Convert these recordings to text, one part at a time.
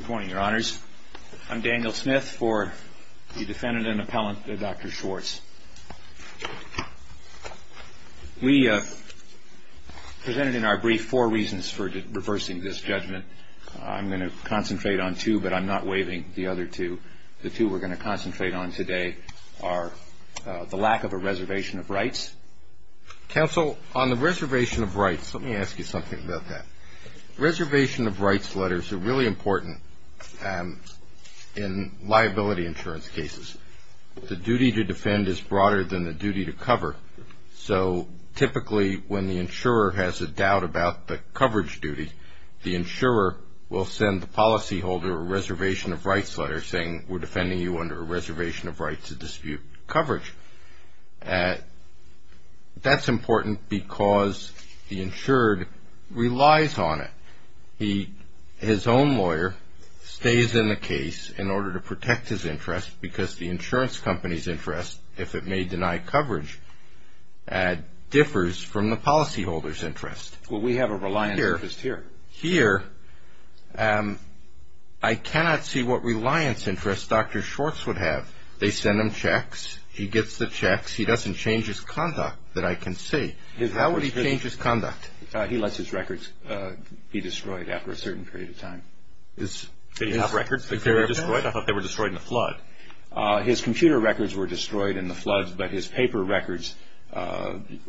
Good morning, your honors. I'm Daniel Smith for the defendant and appellant, Dr. Schwartz. We presented in our brief four reasons for reversing this judgment. I'm going to concentrate on two, but I'm not waiving the other two. The two we're going to concentrate on today are the lack of a reservation of rights. Counsel, on the reservation of rights, let me ask you something about that. Reservation of rights letters are really important in liability insurance cases. The duty to defend is broader than the duty to cover, so typically when the insurer has a doubt about the coverage duty, the insurer will send the policyholder a reservation of rights letter saying, we're defending you under a reservation of rights to dispute coverage. That's important because the insured relies on it. His own lawyer stays in the case in order to protect his interest because the insurance company's interest, if it may deny coverage, differs from the policyholder's interest. Well, we have a reliance interest here. Here, I cannot see what reliance interest Dr. Schwartz would have. They send him checks. He gets the checks. He doesn't change his conduct that I can see. How would he change his conduct? He lets his records be destroyed after a certain period of time. Did he have records that were destroyed? I thought they were destroyed in the flood. His computer records were destroyed in the flood, but his paper records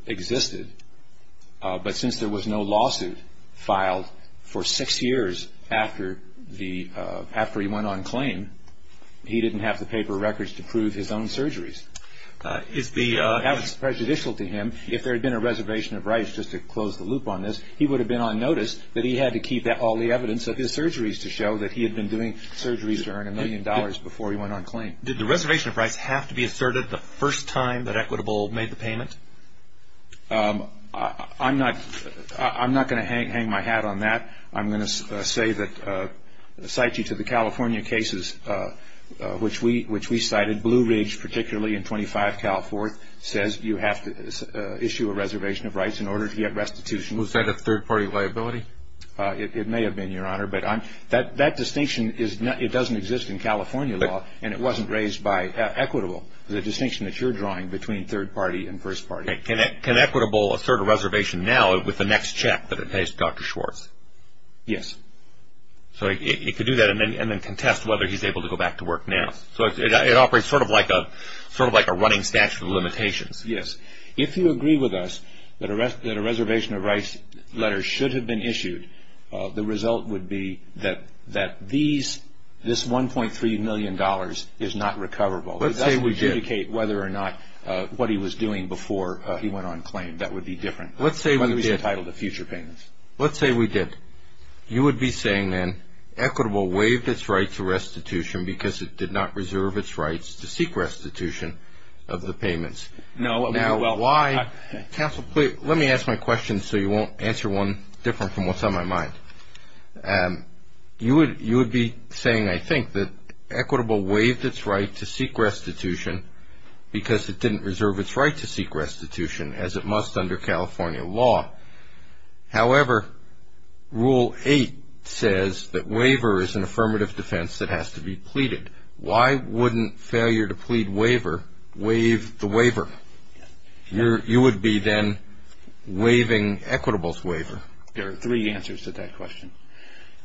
existed. But since there was no lawsuit filed for six years after he went on claim, he didn't have the paper records to prove his own surgeries. That was prejudicial to him. If there had been a reservation of rights, just to close the loop on this, he would have been on notice that he had to keep all the evidence of his surgeries to show that he had been doing surgeries to earn a million dollars before he went on claim. Did the reservation of rights have to be asserted the first time that Equitable made the payment? I'm not going to hang my hat on that. I'm going to cite you to the California cases, which we cited. Blue Ridge, particularly in 25 Cal 4th, says you have to issue a reservation of rights in order to get restitution. Was that a third-party liability? It may have been, Your Honor, but that distinction doesn't exist in California law, and it wasn't raised by Equitable, the distinction that you're drawing between third-party and first-party. Can Equitable assert a reservation now with the next check that it pays Dr. Schwartz? Yes. So it could do that and then contest whether he's able to go back to work now. So it operates sort of like a running statute of limitations. Yes. If you agree with us that a reservation of rights letter should have been issued, the result would be that this $1.3 million is not recoverable. Let's say we did. It doesn't adjudicate whether or not what he was doing before he went on claim. That would be different. Let's say we did. Whether he was entitled to future payments. Let's say we did. You would be saying then Equitable waived its right to restitution because it did not reserve its rights to seek restitution of the payments. No. Now, why? Counsel, let me ask my question so you won't answer one different from what's on my mind. You would be saying, I think, that Equitable waived its right to seek restitution because it didn't reserve its right to seek restitution as it must under California law. However, Rule 8 says that waiver is an affirmative defense that has to be pleaded. Why wouldn't failure to plead waiver waive the waiver? There are three answers to that question.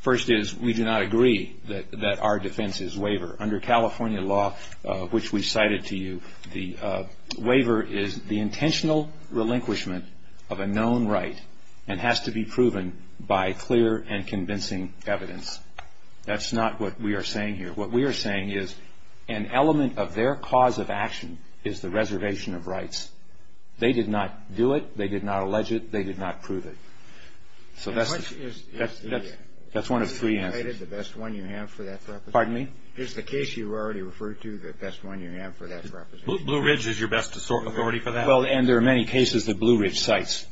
First is we do not agree that our defense is waiver. Under California law, which we cited to you, the waiver is the intentional relinquishment of a known right and has to be proven by clear and convincing evidence. That's not what we are saying here. What we are saying is an element of their cause of action is the reservation of rights. They did not do it. They did not allege it. They did not prove it. So that's one of three answers. The best one you have for that? Pardon me? Is the case you already referred to the best one you have for that? Blue Ridge is your best authority for that? Well, and there are many cases that Blue Ridge cites.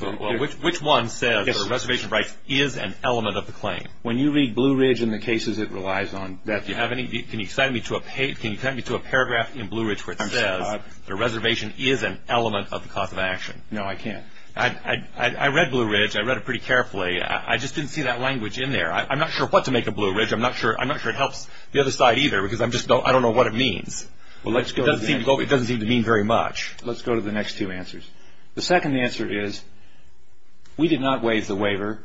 Well, which one says reservation of rights is an element of the claim? When you read Blue Ridge and the cases it relies on, can you cite me to a paragraph in Blue Ridge where it says the reservation is an element of the cause of action? No, I can't. I read Blue Ridge. I read it pretty carefully. I just didn't see that language in there. I'm not sure what to make of Blue Ridge. I'm not sure it helps the other side either because I don't know what it means. It doesn't seem to mean very much. Let's go to the next two answers. The second answer is we did not waive the waiver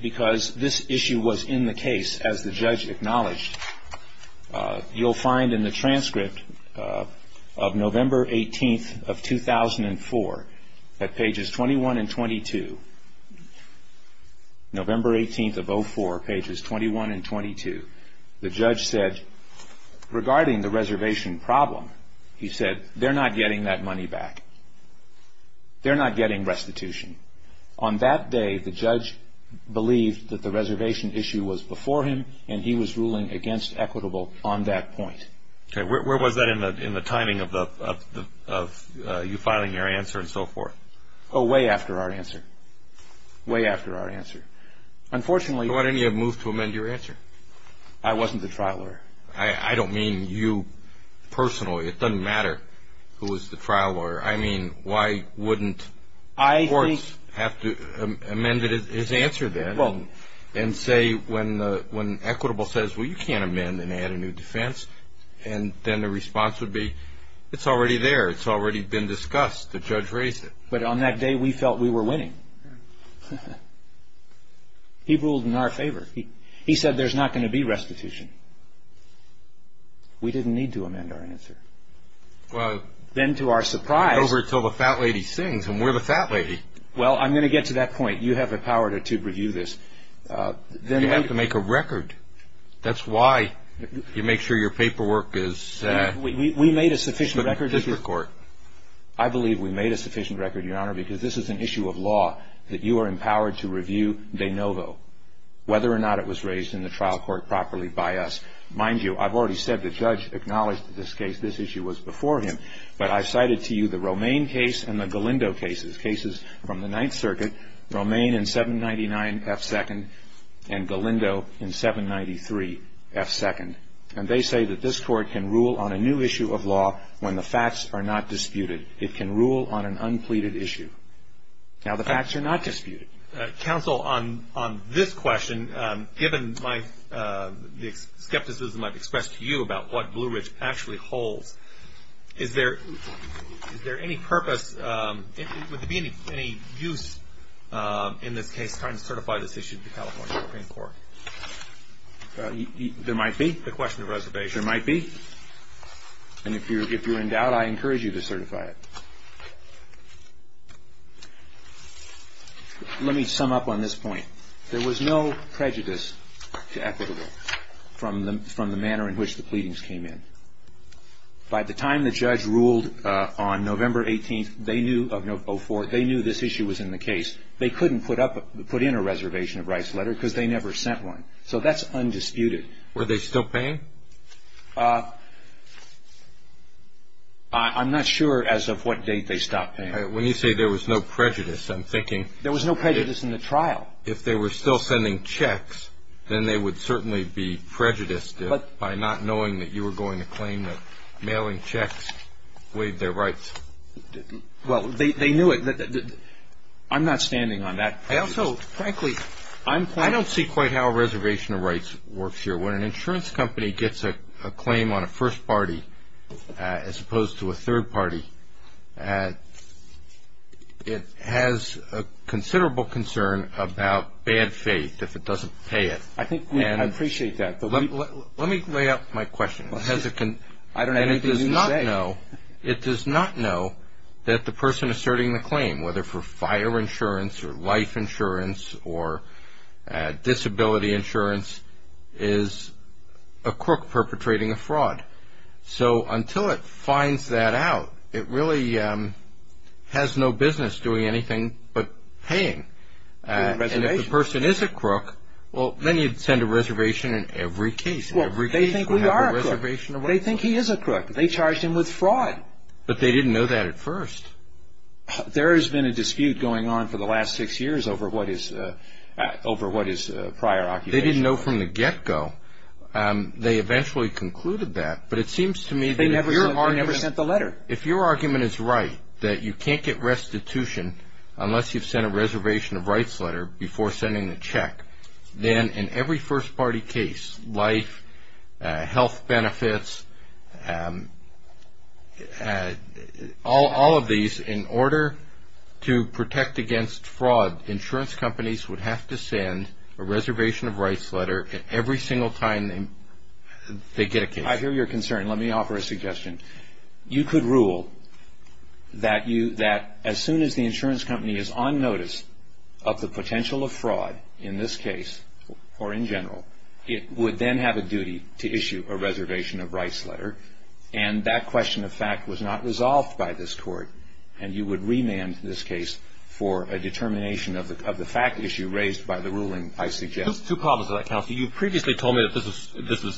because this issue was in the case, as the judge acknowledged. You'll find in the transcript of November 18th of 2004 at pages 21 and 22, November 18th of 04, pages 21 and 22, the judge said regarding the reservation problem, he said they're not getting that money back. They're not getting restitution. On that day, the judge believed that the reservation issue was before him and he was ruling against equitable on that point. Okay. Where was that in the timing of you filing your answer and so forth? Oh, way after our answer. Way after our answer. Why didn't you move to amend your answer? I wasn't the trial lawyer. I don't mean you personally. It doesn't matter who was the trial lawyer. I mean why wouldn't courts have to amend his answer then and say when equitable says, well, you can't amend and add a new defense, and then the response would be, it's already there. It's already been discussed. The judge raised it. But on that day, we felt we were winning. He ruled in our favor. He said there's not going to be restitution. We didn't need to amend our answer. Then to our surprise. Over until the fat lady sings, and we're the fat lady. Well, I'm going to get to that point. You have the power to review this. You have to make a record. That's why you make sure your paperwork is. We made a sufficient record. I believe we made a sufficient record, Your Honor, because this is an issue of law that you are empowered to review de novo, whether or not it was raised in the trial court properly by us. Mind you, I've already said the judge acknowledged this case. This issue was before him. But I've cited to you the Romaine case and the Galindo cases, cases from the Ninth Circuit, Romaine in 799F2nd and Galindo in 793F2nd. And they say that this court can rule on a new issue of law when the facts are not disputed. It can rule on an unpleaded issue. Now, the facts are not disputed. Counsel, on this question, given my skepticism I've expressed to you about what Blue Ridge actually holds, is there any purpose, would there be any use in this case trying to certify this issue to the California Supreme Court? There might be. The question of reservation. There might be. And if you're in doubt, I encourage you to certify it. Let me sum up on this point. There was no prejudice to equitable from the manner in which the pleadings came in. By the time the judge ruled on November 18th of 04, they knew this issue was in the case. They couldn't put in a reservation of rights letter because they never sent one. So that's undisputed. Were they still paying? I'm not sure as of what date they stopped paying. When you say there was no prejudice, I'm thinking – There was no prejudice in the trial. If they were still sending checks, then they would certainly be prejudiced by not knowing that you were going to claim that mailing checks waived their rights. Well, they knew it. I'm not standing on that prejudice. I also, frankly, I'm quite – I don't see quite how a reservation of rights works here. When an insurance company gets a claim on a first party as opposed to a third party, it has a considerable concern about bad faith if it doesn't pay it. I appreciate that. Let me lay out my question. I don't have anything to say. It does not know that the person asserting the claim, whether for fire insurance or life insurance or disability insurance, is a crook perpetrating a fraud. So until it finds that out, it really has no business doing anything but paying. And if the person is a crook, well, then you'd send a reservation in every case. Well, they think we are a crook. They think he is a crook. They charged him with fraud. But they didn't know that at first. There has been a dispute going on for the last six years over what is prior occupation. They didn't know from the get-go. They eventually concluded that, but it seems to me that if your argument is right, that you can't get restitution unless you've sent a reservation of rights letter before sending the check, then in every first-party case, life, health benefits, all of these, in order to protect against fraud, insurance companies would have to send a reservation of rights letter every single time they get a case. I hear your concern. Let me offer a suggestion. You could rule that as soon as the insurance company is on notice of the potential of fraud in this case, or in general, it would then have a duty to issue a reservation of rights letter, and that question of fact was not resolved by this court, and you would remand this case for a determination of the fact issue raised by the ruling I suggest. Two problems with that, Counselor. You previously told me that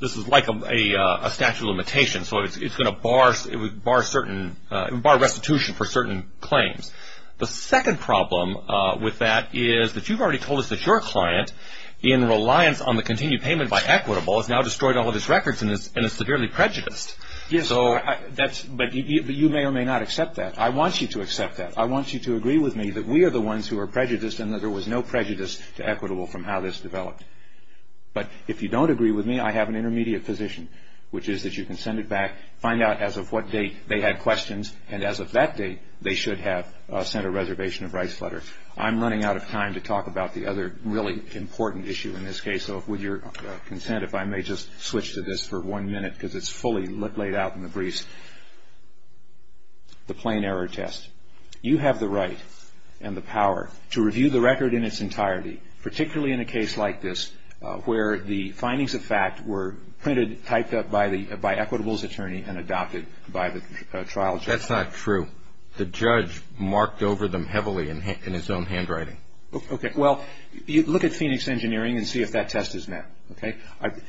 this is like a statute of limitations, so it's going to bar restitution for certain claims. The second problem with that is that you've already told us that your client, in reliance on the continued payment by Equitable, has now destroyed all of his records and is severely prejudiced. Yes, sir. But you may or may not accept that. I want you to accept that. I want you to agree with me that we are the ones who are prejudiced and that there was no prejudice to Equitable from how this developed. But if you don't agree with me, I have an intermediate position, which is that you can send it back, find out as of what date they had questions, and as of that date, they should have sent a reservation of rights letter. I'm running out of time to talk about the other really important issue in this case, so with your consent, if I may just switch to this for one minute because it's fully laid out in the briefs, the plain error test. You have the right and the power to review the record in its entirety, particularly in a case like this where the findings of fact were printed, typed up by Equitable's attorney and adopted by the trial judge. That's not true. The judge marked over them heavily in his own handwriting. Okay. Well, look at Phoenix Engineering and see if that test is met, okay?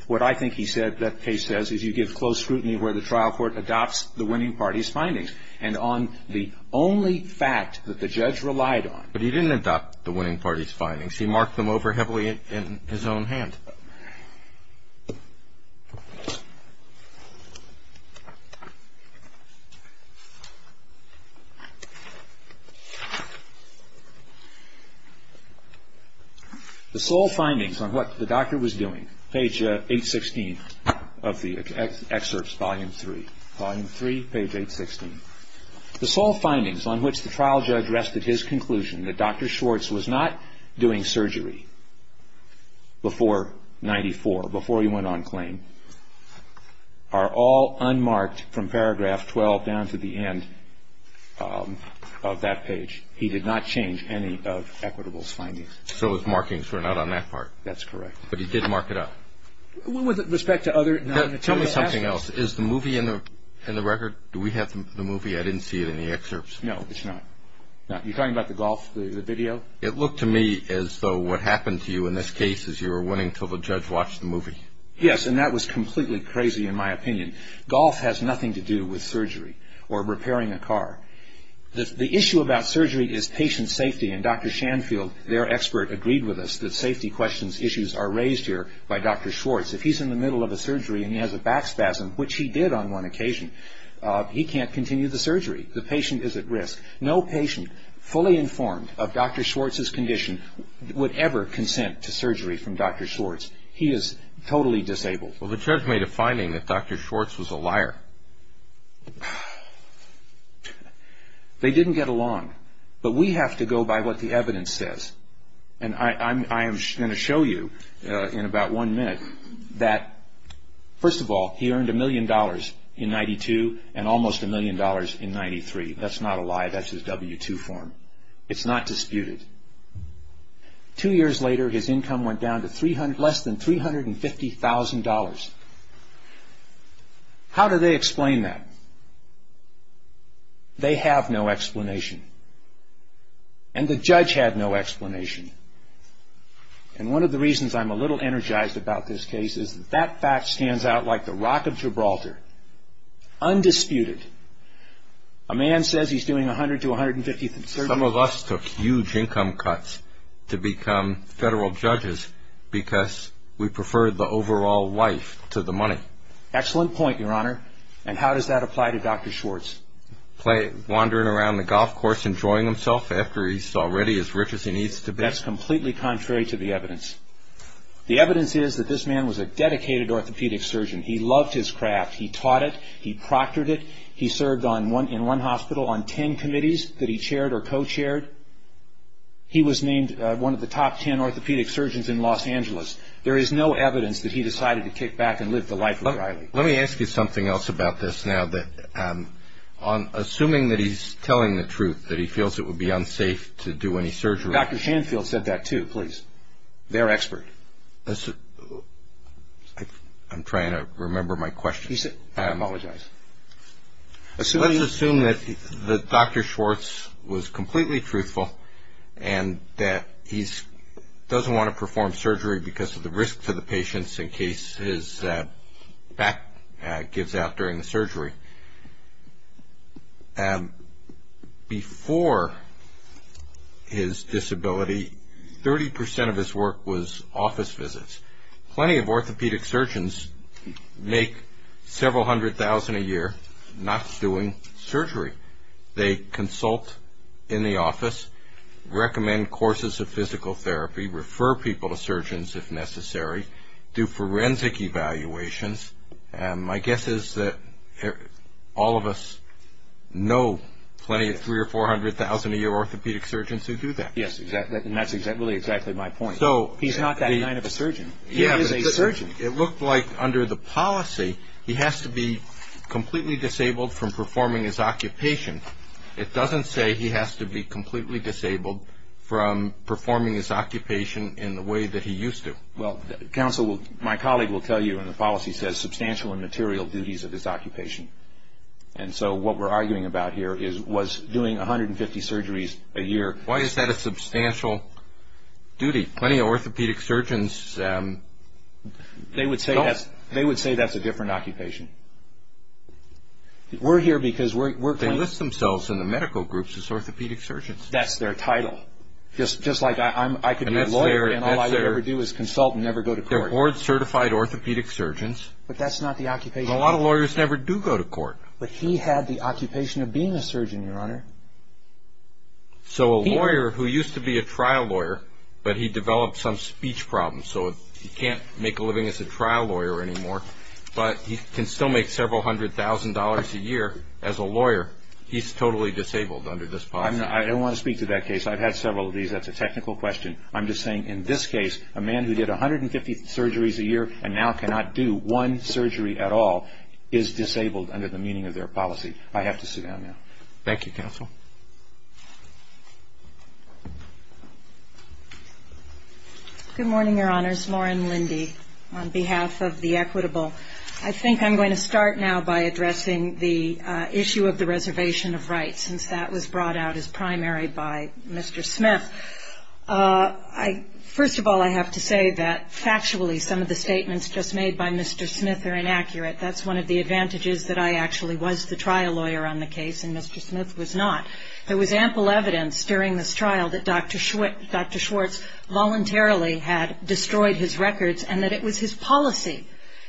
What I think that case says is you give close scrutiny where the trial court adopts the winning party's findings and on the only fact that the judge relied on. But he didn't adopt the winning party's findings. He marked them over heavily in his own hand. The sole findings on what the doctor was doing, page 816 of the excerpts, volume 3, volume 3, page 816. The sole findings on which the trial judge rested his conclusion that Dr. Schwartz was not doing surgery before 94, before he went on claim, are all unmarked from paragraph 12 down to the end of that page. He did not change any of Equitable's findings. So his markings were not on that part. That's correct. But he did mark it up. With respect to other nonmaterial aspects. Tell me something else. Is the movie in the record? Do we have the movie? I didn't see it in the excerpts. No, it's not. You're talking about the golf, the video? It looked to me as though what happened to you in this case is you were winning until the judge watched the movie. Yes, and that was completely crazy in my opinion. Golf has nothing to do with surgery or repairing a car. The issue about surgery is patient safety, and Dr. Shanfield, their expert, agreed with us that safety questions issues are raised here by Dr. Schwartz. If he's in the middle of a surgery and he has a back spasm, which he did on one occasion, he can't continue the surgery. The patient is at risk. No patient fully informed of Dr. Schwartz's condition would ever consent to surgery from Dr. Schwartz. He is totally disabled. Well, the judge made a finding that Dr. Schwartz was a liar. They didn't get along. But we have to go by what the evidence says. And I am going to show you in about one minute that, first of all, he earned a million dollars in 92 and almost a million dollars in 93. That's not a lie. That's his W-2 form. It's not disputed. Two years later, his income went down to less than $350,000. How do they explain that? They have no explanation. And the judge had no explanation. And one of the reasons I'm a little energized about this case is that that fact stands out like the rock of Gibraltar. Undisputed. A man says he's doing 100 to 150 surgeries. Some of us took huge income cuts to become federal judges because we preferred the overall life to the money. Excellent point, Your Honor. And how does that apply to Dr. Schwartz? Wandering around the golf course enjoying himself after he's already as rich as he needs to be. That's completely contrary to the evidence. The evidence is that this man was a dedicated orthopedic surgeon. He loved his craft. He taught it. He proctored it. He served in one hospital on 10 committees that he chaired or co-chaired. He was named one of the top 10 orthopedic surgeons in Los Angeles. There is no evidence that he decided to kick back and live the life of Riley. Let me ask you something else about this now. Assuming that he's telling the truth, that he feels it would be unsafe to do any surgery. Dr. Shanfield said that too, please. They're expert. I'm trying to remember my question. I apologize. Let's assume that Dr. Schwartz was completely truthful and that he doesn't want to perform surgery because of the risk to the patients in case his back gives out during the surgery. Before his disability, 30% of his work was office visits. Plenty of orthopedic surgeons make several hundred thousand a year not doing surgery. They consult in the office, recommend courses of physical therapy, refer people to surgeons if necessary, do forensic evaluations. My guess is that all of us know plenty of three or four hundred thousand a year orthopedic surgeons who do that. Yes, and that's really exactly my point. He's not that kind of a surgeon. He is a surgeon. It looked like under the policy he has to be completely disabled from performing his occupation. It doesn't say he has to be completely disabled from performing his occupation in the way that he used to. Well, counsel, my colleague will tell you in the policy says substantial and material duties of his occupation. And so what we're arguing about here was doing 150 surgeries a year. Why is that a substantial duty? Plenty of orthopedic surgeons don't. They would say that's a different occupation. We're here because we're- They list themselves in the medical groups as orthopedic surgeons. That's their title. Just like I could be a lawyer and all I would ever do is consult and never go to court. They're board-certified orthopedic surgeons. But that's not the occupation. A lot of lawyers never do go to court. But he had the occupation of being a surgeon, Your Honor. So a lawyer who used to be a trial lawyer, but he developed some speech problems so he can't make a living as a trial lawyer anymore, but he can still make several hundred thousand dollars a year as a lawyer, he's totally disabled under this policy. I want to speak to that case. I've had several of these. That's a technical question. I'm just saying in this case, a man who did 150 surgeries a year and now cannot do one surgery at all is disabled under the meaning of their policy. I have to sit down now. Thank you, counsel. Good morning, Your Honors. Lauren Lindy on behalf of the equitable. I think I'm going to start now by addressing the issue of the reservation of rights, since that was brought out as primary by Mr. Smith. First of all, I have to say that factually some of the statements just made by Mr. Smith are inaccurate. That's one of the advantages that I actually was the trial lawyer on the case and Mr. Smith was not. There was ample evidence during this trial that Dr. Schwartz voluntarily had destroyed his records and that it was his policy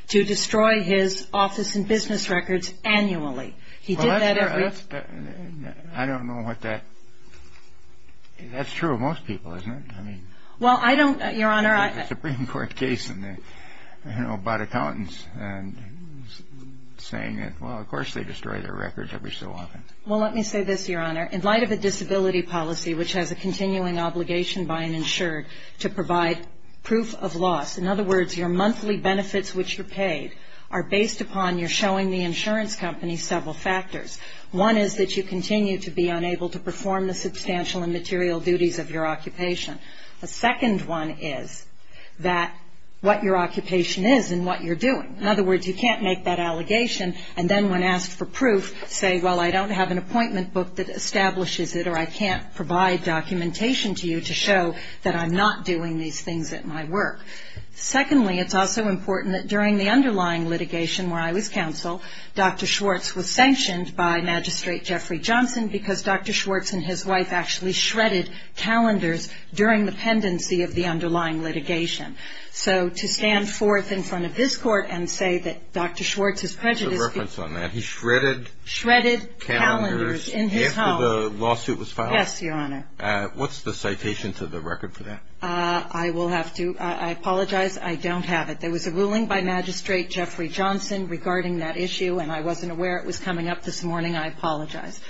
to destroy his office and business records annually. I don't know what that is. That's true of most people, isn't it? Well, I don't, Your Honor. The Supreme Court case about accountants saying, well, of course they destroy their records every so often. Well, let me say this, Your Honor. In light of a disability policy which has a continuing obligation by an insured to provide proof of loss, in other words your monthly benefits which you're paid are based upon your showing the insurance company several factors. One is that you continue to be unable to perform the substantial and material duties of your occupation. The second one is that what your occupation is and what you're doing. In other words, you can't make that allegation and then when asked for proof say, well, I don't have an appointment book that establishes it or I can't provide documentation to you to show that I'm not doing these things at my work. Secondly, it's also important that during the underlying litigation where I was counsel, Dr. Schwartz was sanctioned by Magistrate Jeffrey Johnson because Dr. Schwartz and his wife actually shredded calendars during the pendency of the underlying litigation. So to stand forth in front of this court and say that Dr. Schwartz has prejudiced people. There's a reference on that. He shredded calendars in his home. Shredded calendars after the lawsuit was filed? Yes, Your Honor. What's the citation to the record for that? I will have to apologize. I don't have it. There was a ruling by Magistrate Jeffrey Johnson regarding that issue and I wasn't aware it was coming up this morning. I apologize.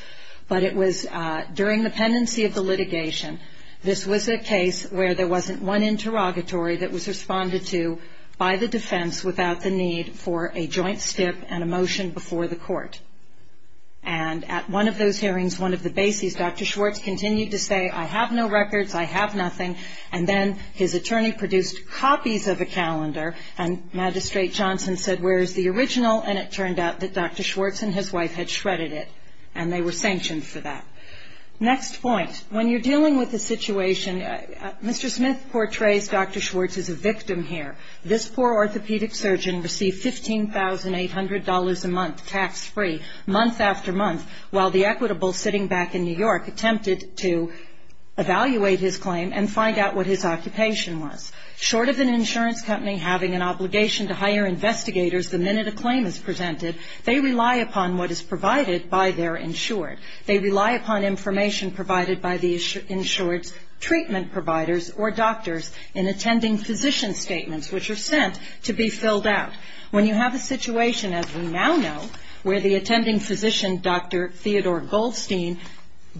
But it was during the pendency of the litigation. This was a case where there wasn't one interrogatory that was responded to by the defense without the need for a joint stip and a motion before the court. And at one of those hearings, one of the bases, Dr. Schwartz continued to say, I have no records, I have nothing, and then his attorney produced copies of a calendar and Magistrate Johnson said, where is the original? And it turned out that Dr. Schwartz and his wife had shredded it and they were sanctioned for that. Next point. When you're dealing with a situation, Mr. Smith portrays Dr. Schwartz as a victim here. This poor orthopedic surgeon received $15,800 a month tax-free, month after month, while the equitable sitting back in New York attempted to evaluate his claim and find out what his occupation was. Short of an insurance company having an obligation to hire investigators the minute a claim is presented, they rely upon what is provided by their insured. They rely upon information provided by the insured's treatment providers or doctors in attending physician statements, which are sent to be filled out. When you have a situation, as we now know, where the attending physician, Dr. Theodore Goldstein,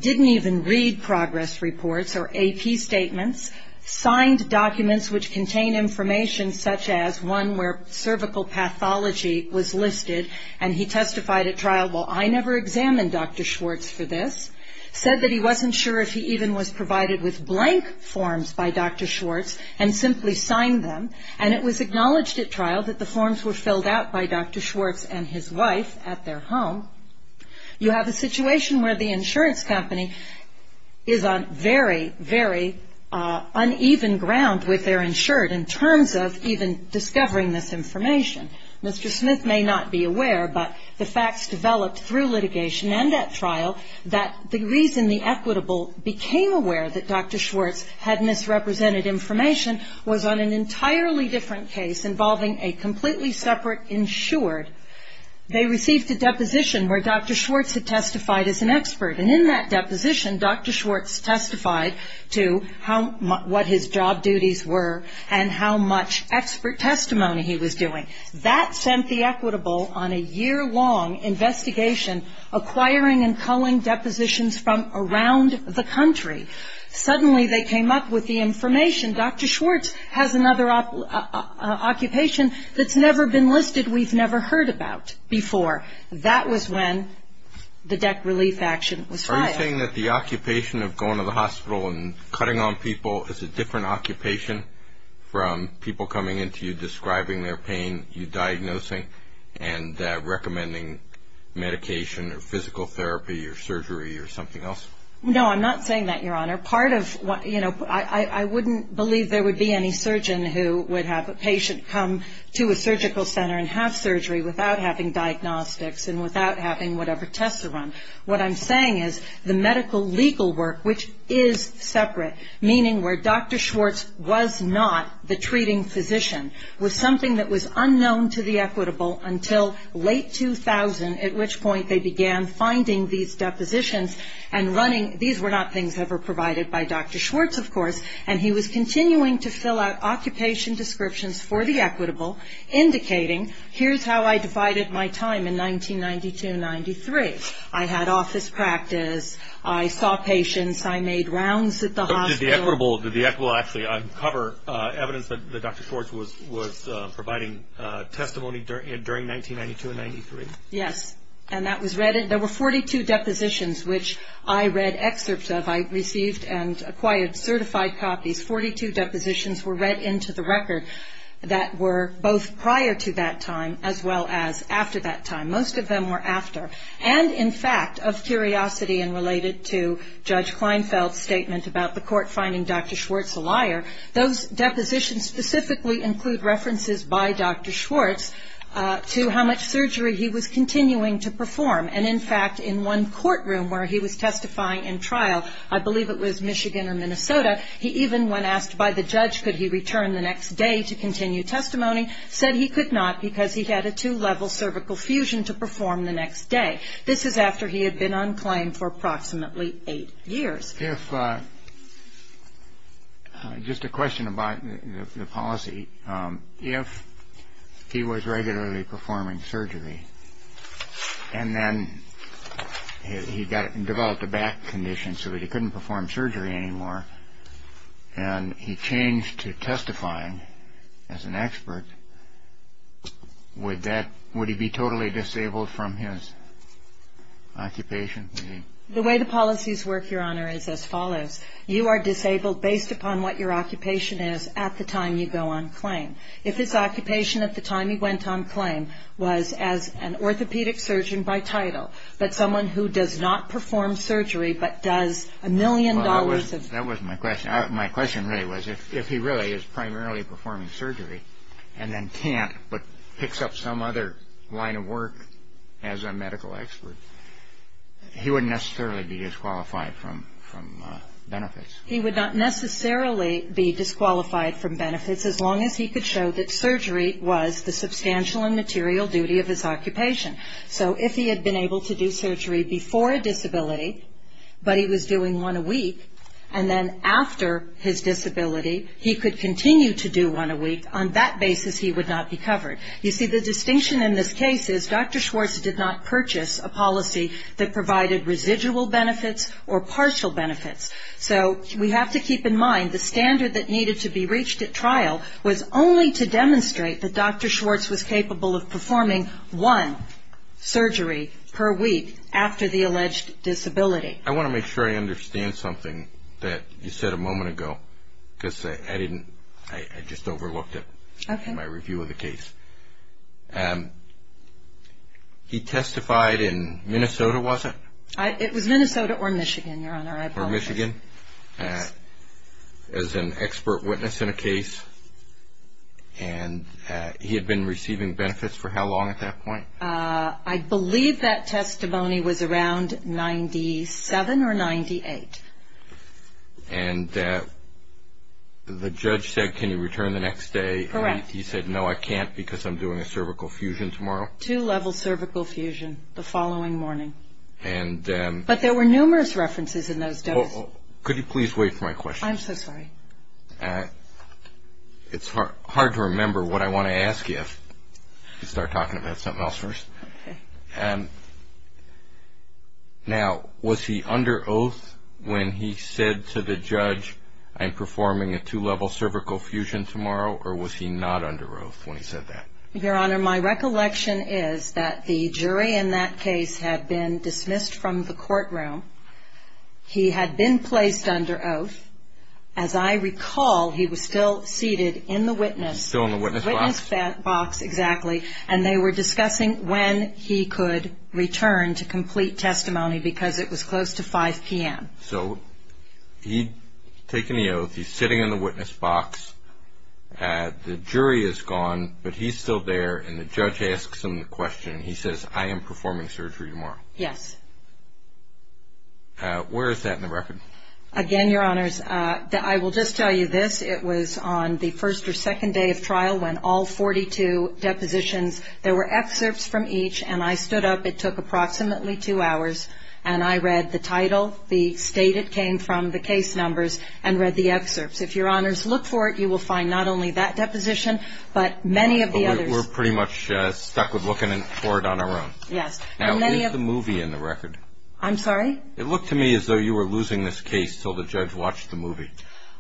didn't even read progress reports or AP statements, signed documents which contain information such as one where cervical pathology was listed, and he testified at trial, well, I never examined Dr. Schwartz for this, said that he wasn't sure if he even was provided with blank forms by Dr. Schwartz, and simply signed them, and it was acknowledged at trial that the forms were filled out by Dr. Schwartz and his wife at their home, you have a situation where the insurance company is on very, very uneven ground with their insured in terms of even discovering this information. Mr. Smith may not be aware, but the facts developed through litigation and at trial, that the reason the equitable became aware that Dr. Schwartz had misrepresented information was on an entirely different case involving a completely separate insured. They received a deposition where Dr. Schwartz had testified as an expert, and in that deposition, Dr. Schwartz testified to what his job duties were and how much expert testimony he was doing. That sent the equitable on a year-long investigation acquiring and culling depositions from around the country. Suddenly they came up with the information, Dr. Schwartz has another occupation that's never been listed, we've never heard about before. That was when the DEC relief action was filed. Are you saying that the occupation of going to the hospital and cutting on people is a different occupation from people coming in to you describing their pain, you diagnosing, and recommending medication or physical therapy or surgery or something else? No, I'm not saying that, Your Honor. I wouldn't believe there would be any surgeon who would have a patient come to a surgical center and have surgery without having diagnostics and without having whatever tests are on. What I'm saying is the medical legal work, which is separate, meaning where Dr. Schwartz was not the treating physician, was something that was unknown to the equitable until late 2000, at which point they began finding these depositions and running. These were not things ever provided by Dr. Schwartz, of course, and he was continuing to fill out occupation descriptions for the equitable, indicating here's how I divided my time in 1992-93. I had office practice. I saw patients. I made rounds at the hospital. Did the equitable actually uncover evidence that Dr. Schwartz was providing testimony during 1992-93? Yes, and that was read. There were 42 depositions, which I read excerpts of. I received and acquired certified copies. Forty-two depositions were read into the record that were both prior to that time as well as after that time. Most of them were after. And, in fact, of curiosity and related to Judge Kleinfeld's statement about the court finding Dr. Schwartz a liar, those depositions specifically include references by Dr. Schwartz to how much surgery he was continuing to perform. And, in fact, in one courtroom where he was testifying in trial, I believe it was Michigan or Minnesota, he even, when asked by the judge could he return the next day to continue testimony, said he could not because he had a two-level cervical fusion to perform the next day. This is after he had been on claim for approximately eight years. If, just a question about the policy, if he was regularly performing surgery and then he developed a back condition so that he couldn't perform surgery anymore and he changed to testifying as an expert, would he be totally disabled from his occupation? The way the policies work, Your Honor, is as follows. You are disabled based upon what your occupation is at the time you go on claim. If his occupation at the time he went on claim was as an orthopedic surgeon by title but someone who does not perform surgery but does a million dollars of Well, that wasn't my question. My question really was if he really is primarily performing surgery and then can't but picks up some other line of work as a medical expert, he wouldn't necessarily be disqualified from benefits. He would not necessarily be disqualified from benefits as long as he could show that surgery was the substantial and material duty of his occupation. So if he had been able to do surgery before a disability but he was doing one a week and then after his disability he could continue to do one a week, on that basis he would not be covered. You see, the distinction in this case is Dr. Schwartz did not purchase a policy that provided residual benefits or partial benefits. So we have to keep in mind the standard that needed to be reached at trial was only to demonstrate that Dr. Schwartz was capable of performing one surgery per week after the alleged disability. I want to make sure I understand something that you said a moment ago because I just overlooked it in my review of the case. He testified in Minnesota, was it? It was Minnesota or Michigan, Your Honor. Yes. As an expert witness in a case and he had been receiving benefits for how long at that point? I believe that testimony was around 97 or 98. And the judge said, can you return the next day? Correct. He said, no, I can't because I'm doing a cervical fusion tomorrow. Two-level cervical fusion the following morning. But there were numerous references in those doses. Could you please wait for my question? I'm so sorry. It's hard to remember what I want to ask you. I should start talking about something else first. Now, was he under oath when he said to the judge, I'm performing a two-level cervical fusion tomorrow, or was he not under oath when he said that? Your Honor, my recollection is that the jury in that case had been dismissed from the courtroom. He had been placed under oath. As I recall, he was still seated in the witness. Still in the witness box? Witness box, exactly. And they were discussing when he could return to complete testimony because it was close to 5 p.m. So he'd taken the oath. He's sitting in the witness box. The jury is gone, but he's still there, and the judge asks him the question. He says, I am performing surgery tomorrow. Yes. Where is that in the record? Again, Your Honors, I will just tell you this. It was on the first or second day of trial when all 42 depositions, there were excerpts from each, and I stood up. It took approximately two hours, and I read the title, the state it came from, the case numbers, and read the excerpts. If Your Honors look for it, you will find not only that deposition, but many of the others. But we're pretty much stuck with looking for it on our own. Yes. Now, is the movie in the record? I'm sorry? It looked to me as though you were losing this case until the judge watched the movie,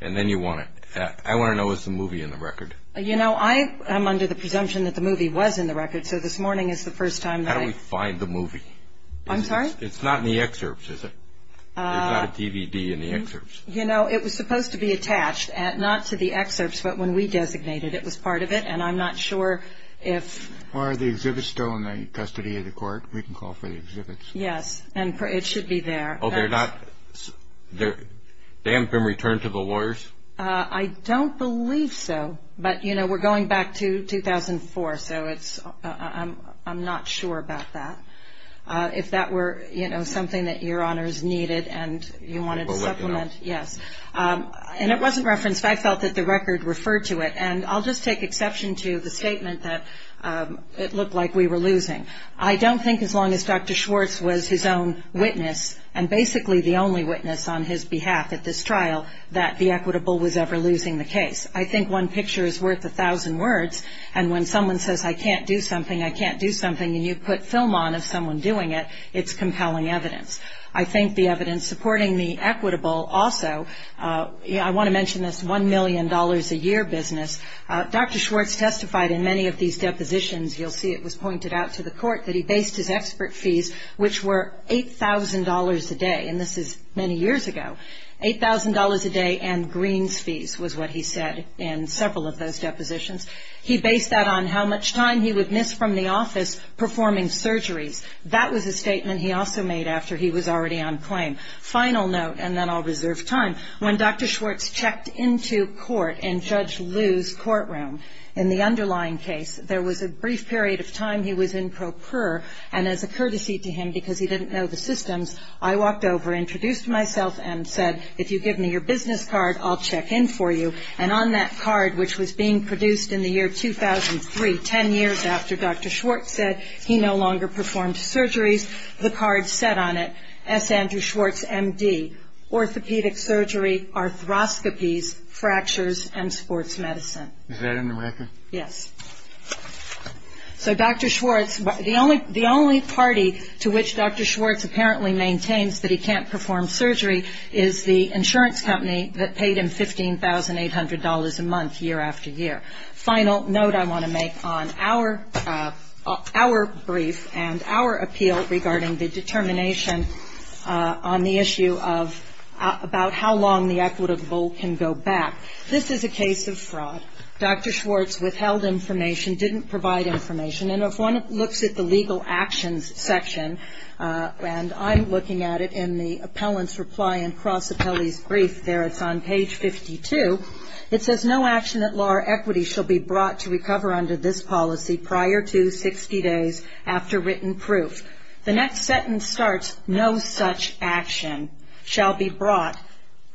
and then you want it. I want to know, is the movie in the record? You know, I'm under the presumption that the movie was in the record, so this morning is the first time that I… How do we find the movie? I'm sorry? It's not in the excerpts, is it? There's not a DVD in the excerpts. You know, it was supposed to be attached, not to the excerpts, but when we designated it was part of it, and I'm not sure if… Are the exhibits still in the custody of the court? We can call for the exhibits. Yes, and it should be there. Oh, they're not… they haven't been returned to the lawyers? I don't believe so, but, you know, we're going back to 2004, so I'm not sure about that. If that were, you know, something that your honors needed and you wanted to supplement… Well, let me know. Yes. And it wasn't referenced. I felt that the record referred to it, and I'll just take exception to the statement that it looked like we were losing. I don't think as long as Dr. Schwartz was his own witness, and basically the only witness on his behalf at this trial, that the equitable was ever losing the case. I think one picture is worth a thousand words, and when someone says, I can't do something, I can't do something, and you put film on of someone doing it, it's compelling evidence. I think the evidence supporting the equitable also, I want to mention this $1 million a year business. Dr. Schwartz testified in many of these depositions, you'll see it was pointed out to the court, that he based his expert fees, which were $8,000 a day, and this is many years ago. $8,000 a day and greens fees was what he said in several of those depositions. He based that on how much time he would miss from the office performing surgeries. That was a statement he also made after he was already on claim. Final note, and then I'll reserve time. When Dr. Schwartz checked into court in Judge Liu's courtroom in the underlying case, there was a brief period of time he was in pro pur, and as a courtesy to him, because he didn't know the systems, I walked over, introduced myself, and said, if you give me your business card, I'll check in for you. And on that card, which was being produced in the year 2003, 10 years after Dr. Schwartz said he no longer performed surgeries, the card said on it, S. Andrew Schwartz, M.D., orthopedic surgery, arthroscopies, fractures, and sports medicine. Is that in the record? Yes. So Dr. Schwartz, the only party to which Dr. Schwartz apparently maintains that he can't perform surgery is the insurance company that paid him $15,800 a month year after year. Final note I want to make on our brief and our appeal regarding the determination on the issue of about how long the equitable can go back. This is a case of fraud. Dr. Schwartz withheld information, didn't provide information. And if one looks at the legal actions section, and I'm looking at it in the appellant's reply and cross-appellee's brief there, it's on page 52, it says, no action at law or equity shall be brought to recover under this policy prior to 60 days after written proof. The next sentence starts, no such action shall be brought,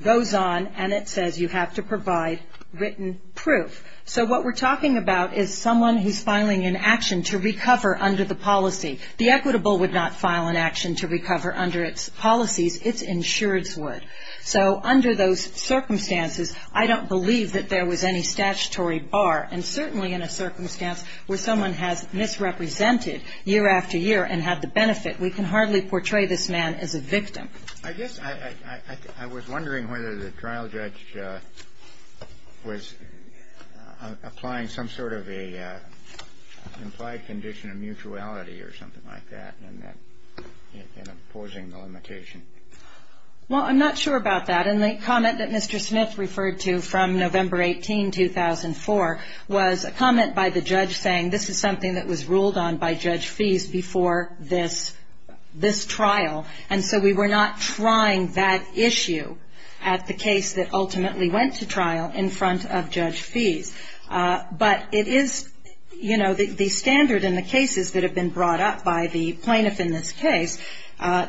goes on, and it says you have to provide written proof. So what we're talking about is someone who's filing an action to recover under the policy. The equitable would not file an action to recover under its policies. Its insurance would. So under those circumstances, I don't believe that there was any statutory bar, and certainly in a circumstance where someone has misrepresented year after year and had the benefit, we can hardly portray this man as a victim. I guess I was wondering whether the trial judge was applying some sort of an implied condition of mutuality or something like that in opposing the limitation. Well, I'm not sure about that. And the comment that Mr. Smith referred to from November 18, 2004, was a comment by the judge saying this is something that was ruled on by Judge Fease before this trial. And so we were not trying that issue at the case that ultimately went to trial in front of Judge Fease. But it is, you know, the standard in the cases that have been brought up by the plaintiff in this case,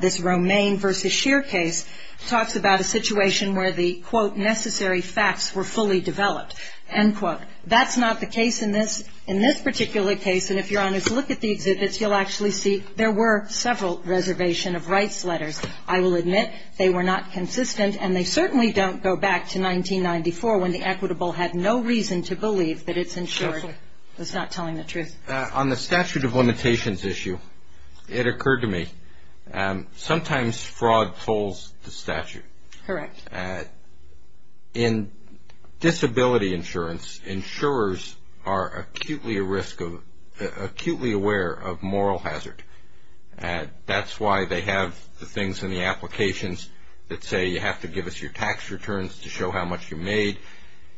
this Romaine versus Scheer case, talks about a situation where the, quote, necessary facts were fully developed, end quote. That's not the case in this particular case. And if Your Honors look at the exhibits, you'll actually see there were several reservation of rights letters. I will admit they were not consistent, and they certainly don't go back to 1994 when the equitable had no reason to believe that it's insured. It's not telling the truth. On the statute of limitations issue, it occurred to me, sometimes fraud tolls the statute. Correct. In disability insurance, insurers are acutely aware of moral hazard. That's why they have the things in the applications that say you have to give us your tax returns to show how much you made.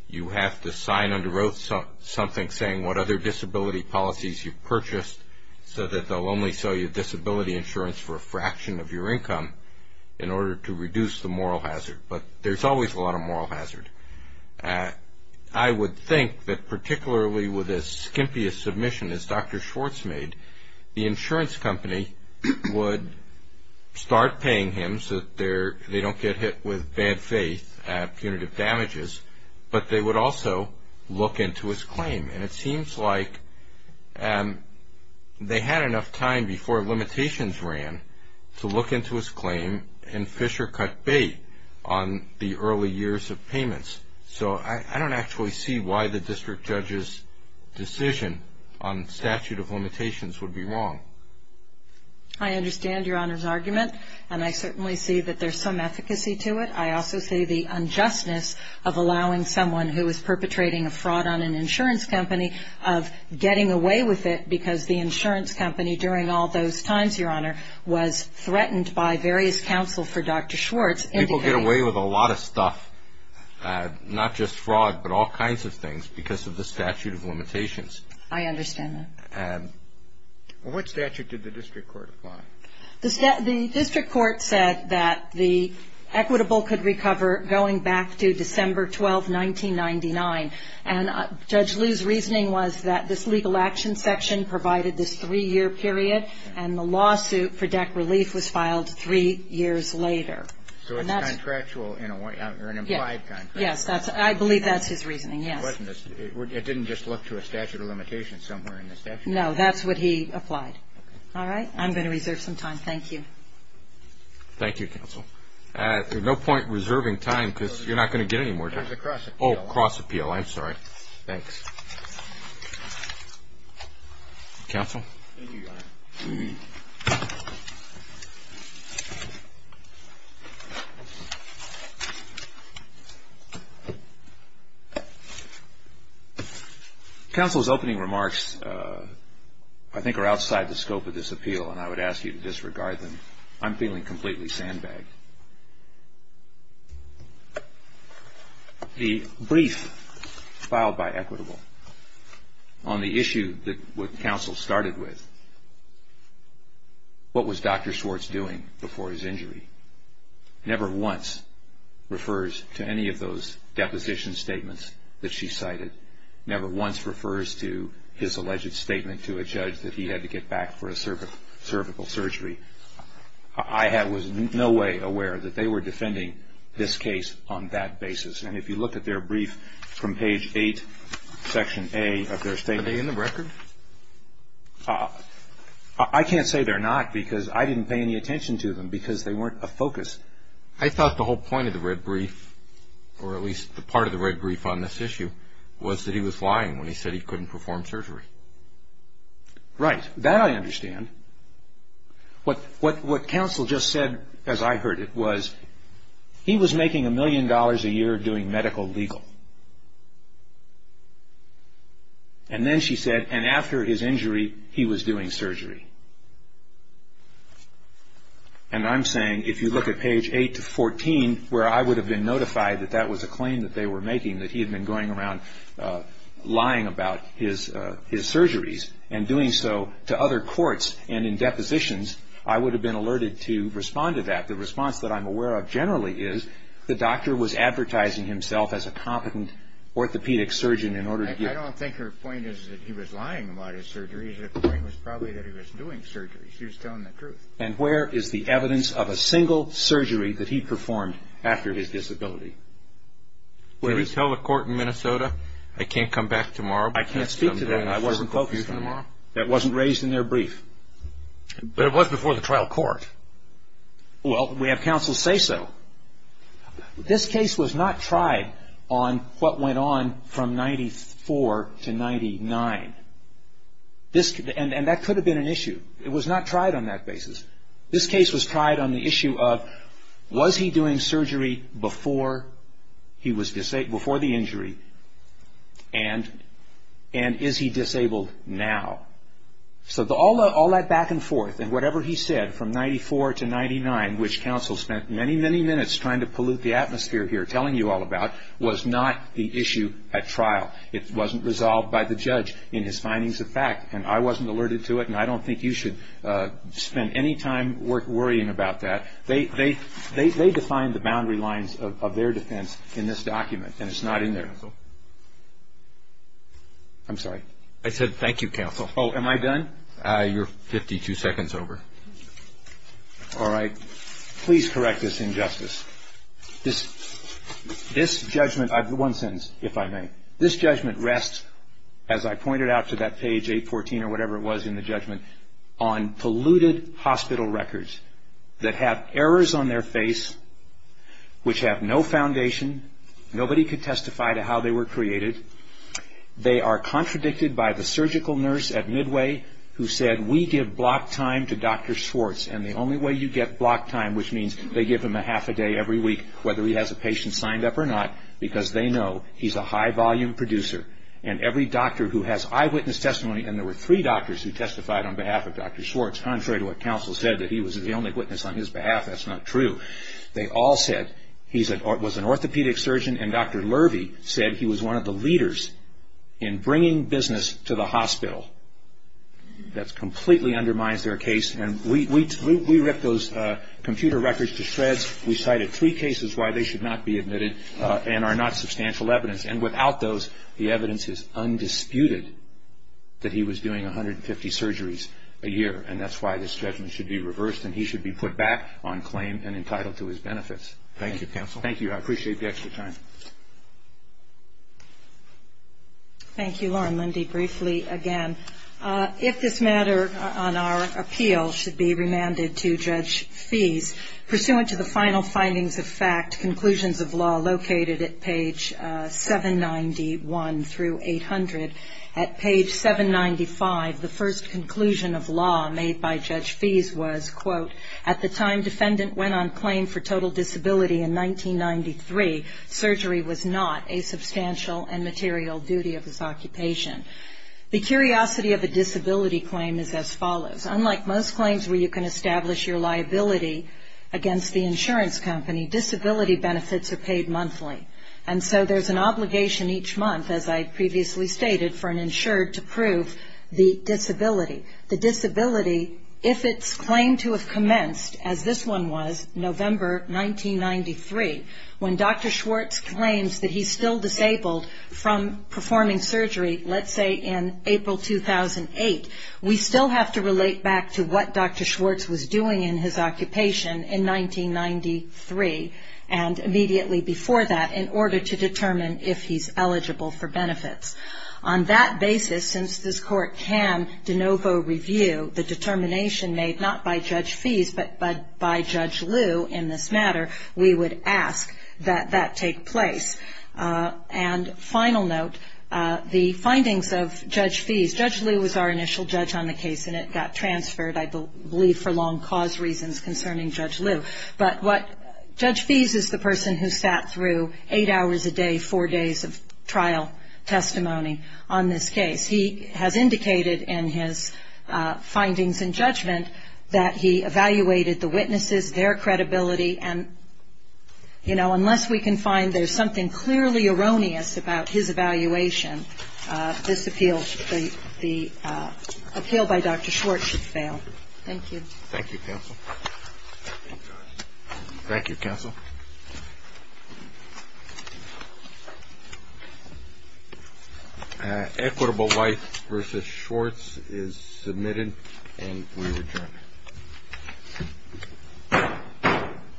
You have to sign under oath something saying what other disability policies you purchased so that they'll only sell you disability insurance for a fraction of your income in order to reduce the moral hazard. But there's always a lot of moral hazard. I would think that particularly with a skimpiest submission as Dr. Schwartz made, the insurance company would start paying him so that they don't get hit with bad faith, punitive damages, but they would also look into his claim. And it seems like they had enough time before limitations ran to look into his claim and fish or cut bait on the early years of payments. So I don't actually see why the district judge's decision on statute of limitations would be wrong. I understand Your Honor's argument, and I certainly see that there's some efficacy to it. I also see the unjustness of allowing someone who is perpetrating a fraud on an insurance company of getting away with it because the insurance company during all those times, Your Honor, was threatened by various counsel for Dr. Schwartz. People get away with a lot of stuff, not just fraud, but all kinds of things because of the statute of limitations. I understand that. What statute did the district court apply? The district court said that the equitable could recover going back to December 12, 1999. And Judge Liu's reasoning was that this legal action section provided this three-year period, and the lawsuit for deck relief was filed three years later. So it's contractual or an implied contractual? Yes, I believe that's his reasoning, yes. It didn't just look to a statute of limitations somewhere in the statute? No, that's what he applied. All right. I'm going to reserve some time. Thank you. Thank you, counsel. There's no point in reserving time because you're not going to get any more time. There's a cross appeal. Oh, cross appeal. I'm sorry. Thanks. Counsel? Thank you, Your Honor. Counsel's opening remarks, I think, are outside the scope of this appeal, and I would ask you to disregard them. I'm feeling completely sandbagged. The brief filed by Equitable on the issue that counsel started with, what was Dr. Schwartz doing before his injury, never once refers to any of those deposition statements that she cited, never once refers to his alleged statement to a judge that he had to get back for a cervical surgery. I was in no way aware that they were defending this case on that basis, and if you look at their brief from page 8, section A of their statement. Are they in the record? I can't say they're not because I didn't pay any attention to them because they weren't a focus. I thought the whole point of the red brief, or at least the part of the red brief on this issue, was that he was lying when he said he couldn't perform surgery. Right. That I understand. What counsel just said, as I heard it, was he was making a million dollars a year doing medical legal. And then she said, and after his injury, he was doing surgery. And I'm saying, if you look at page 8 to 14, where I would have been notified that that was a claim that they were making, that he had been going around lying about his surgeries and doing so to other courts and in depositions, I would have been alerted to respond to that. The response that I'm aware of generally is the doctor was advertising himself as a competent orthopedic surgeon in order to get. I don't think her point is that he was lying about his surgeries. The point was probably that he was doing surgery. She was telling the truth. And where is the evidence of a single surgery that he performed after his disability? Well, you tell the court in Minnesota, I can't come back tomorrow. I can't speak to that. I wasn't focused on tomorrow. That wasn't raised in their brief. But it was before the trial court. Well, we have counsel say so. This case was not tried on what went on from 94 to 99. And that could have been an issue. It was not tried on that basis. This case was tried on the issue of was he doing surgery before the injury and is he disabled now? So all that back and forth and whatever he said from 94 to 99, which counsel spent many, many minutes trying to pollute the atmosphere here telling you all about, was not the issue at trial. It wasn't resolved by the judge in his findings of fact. And I wasn't alerted to it. And I don't think you should spend any time worrying about that. They defined the boundary lines of their defense in this document. And it's not in there. I'm sorry. I said thank you, counsel. Oh, am I done? You're 52 seconds over. All right. Please correct this injustice. This judgment, one sentence, if I may. This judgment rests, as I pointed out to that page 814 or whatever it was in the judgment, on polluted hospital records that have errors on their face which have no foundation. Nobody could testify to how they were created. They are contradicted by the surgical nurse at Midway who said, we give block time to Dr. Schwartz and the only way you get block time, which means they give him a half a day every week whether he has a patient signed up or not, because they know he's a high volume producer. And every doctor who has eyewitness testimony, and there were three doctors who testified on behalf of Dr. Schwartz, contrary to what counsel said that he was the only witness on his behalf. That's not true. They all said he was an orthopedic surgeon, and Dr. Lurvie said he was one of the leaders in bringing business to the hospital. That completely undermines their case. And we ripped those computer records to shreds. We cited three cases why they should not be admitted and are not substantial evidence. And without those, the evidence is undisputed that he was doing 150 surgeries a year, and that's why this judgment should be reversed and he should be put back on claim and entitled to his benefits. Thank you, counsel. Thank you. I appreciate the extra time. Thank you, Loren. Lindy, briefly again. If this matter on our appeal should be remanded to Judge Fees, pursuant to the final findings of fact, conclusions of law located at page 791 through 800, at page 795 the first conclusion of law made by Judge Fees was, quote, at the time defendant went on claim for total disability in 1993, surgery was not a substantial and material duty of his occupation. The curiosity of a disability claim is as follows. Unlike most claims where you can establish your liability against the insurance company, disability benefits are paid monthly. And so there's an obligation each month, as I previously stated, for an insured to prove the disability. The disability, if it's claimed to have commenced, as this one was, November 1993, when Dr. Schwartz claims that he's still disabled from performing surgery, let's say in April 2008, we still have to relate back to what Dr. Schwartz was doing in his occupation in 1993 and immediately before that in order to determine if he's eligible for benefits. On that basis, since this Court can de novo review the determination made not by Judge Fees, but by Judge Lew in this matter, we would ask that that take place. And final note, the findings of Judge Fees. Judge Lew was our initial judge on the case, and it got transferred, I believe, for long cause reasons concerning Judge Lew. But what Judge Fees is the person who sat through eight hours a day, four days of trial testimony on this case. He has indicated in his findings and judgment that he evaluated the witnesses, their credibility, and, you know, unless we can find there's something clearly erroneous about his evaluation, this appeal, the appeal by Dr. Schwartz should fail. Thank you. Thank you, counsel. Thank you, counsel. Thank you. Equitable White v. Schwartz is submitted, and we return.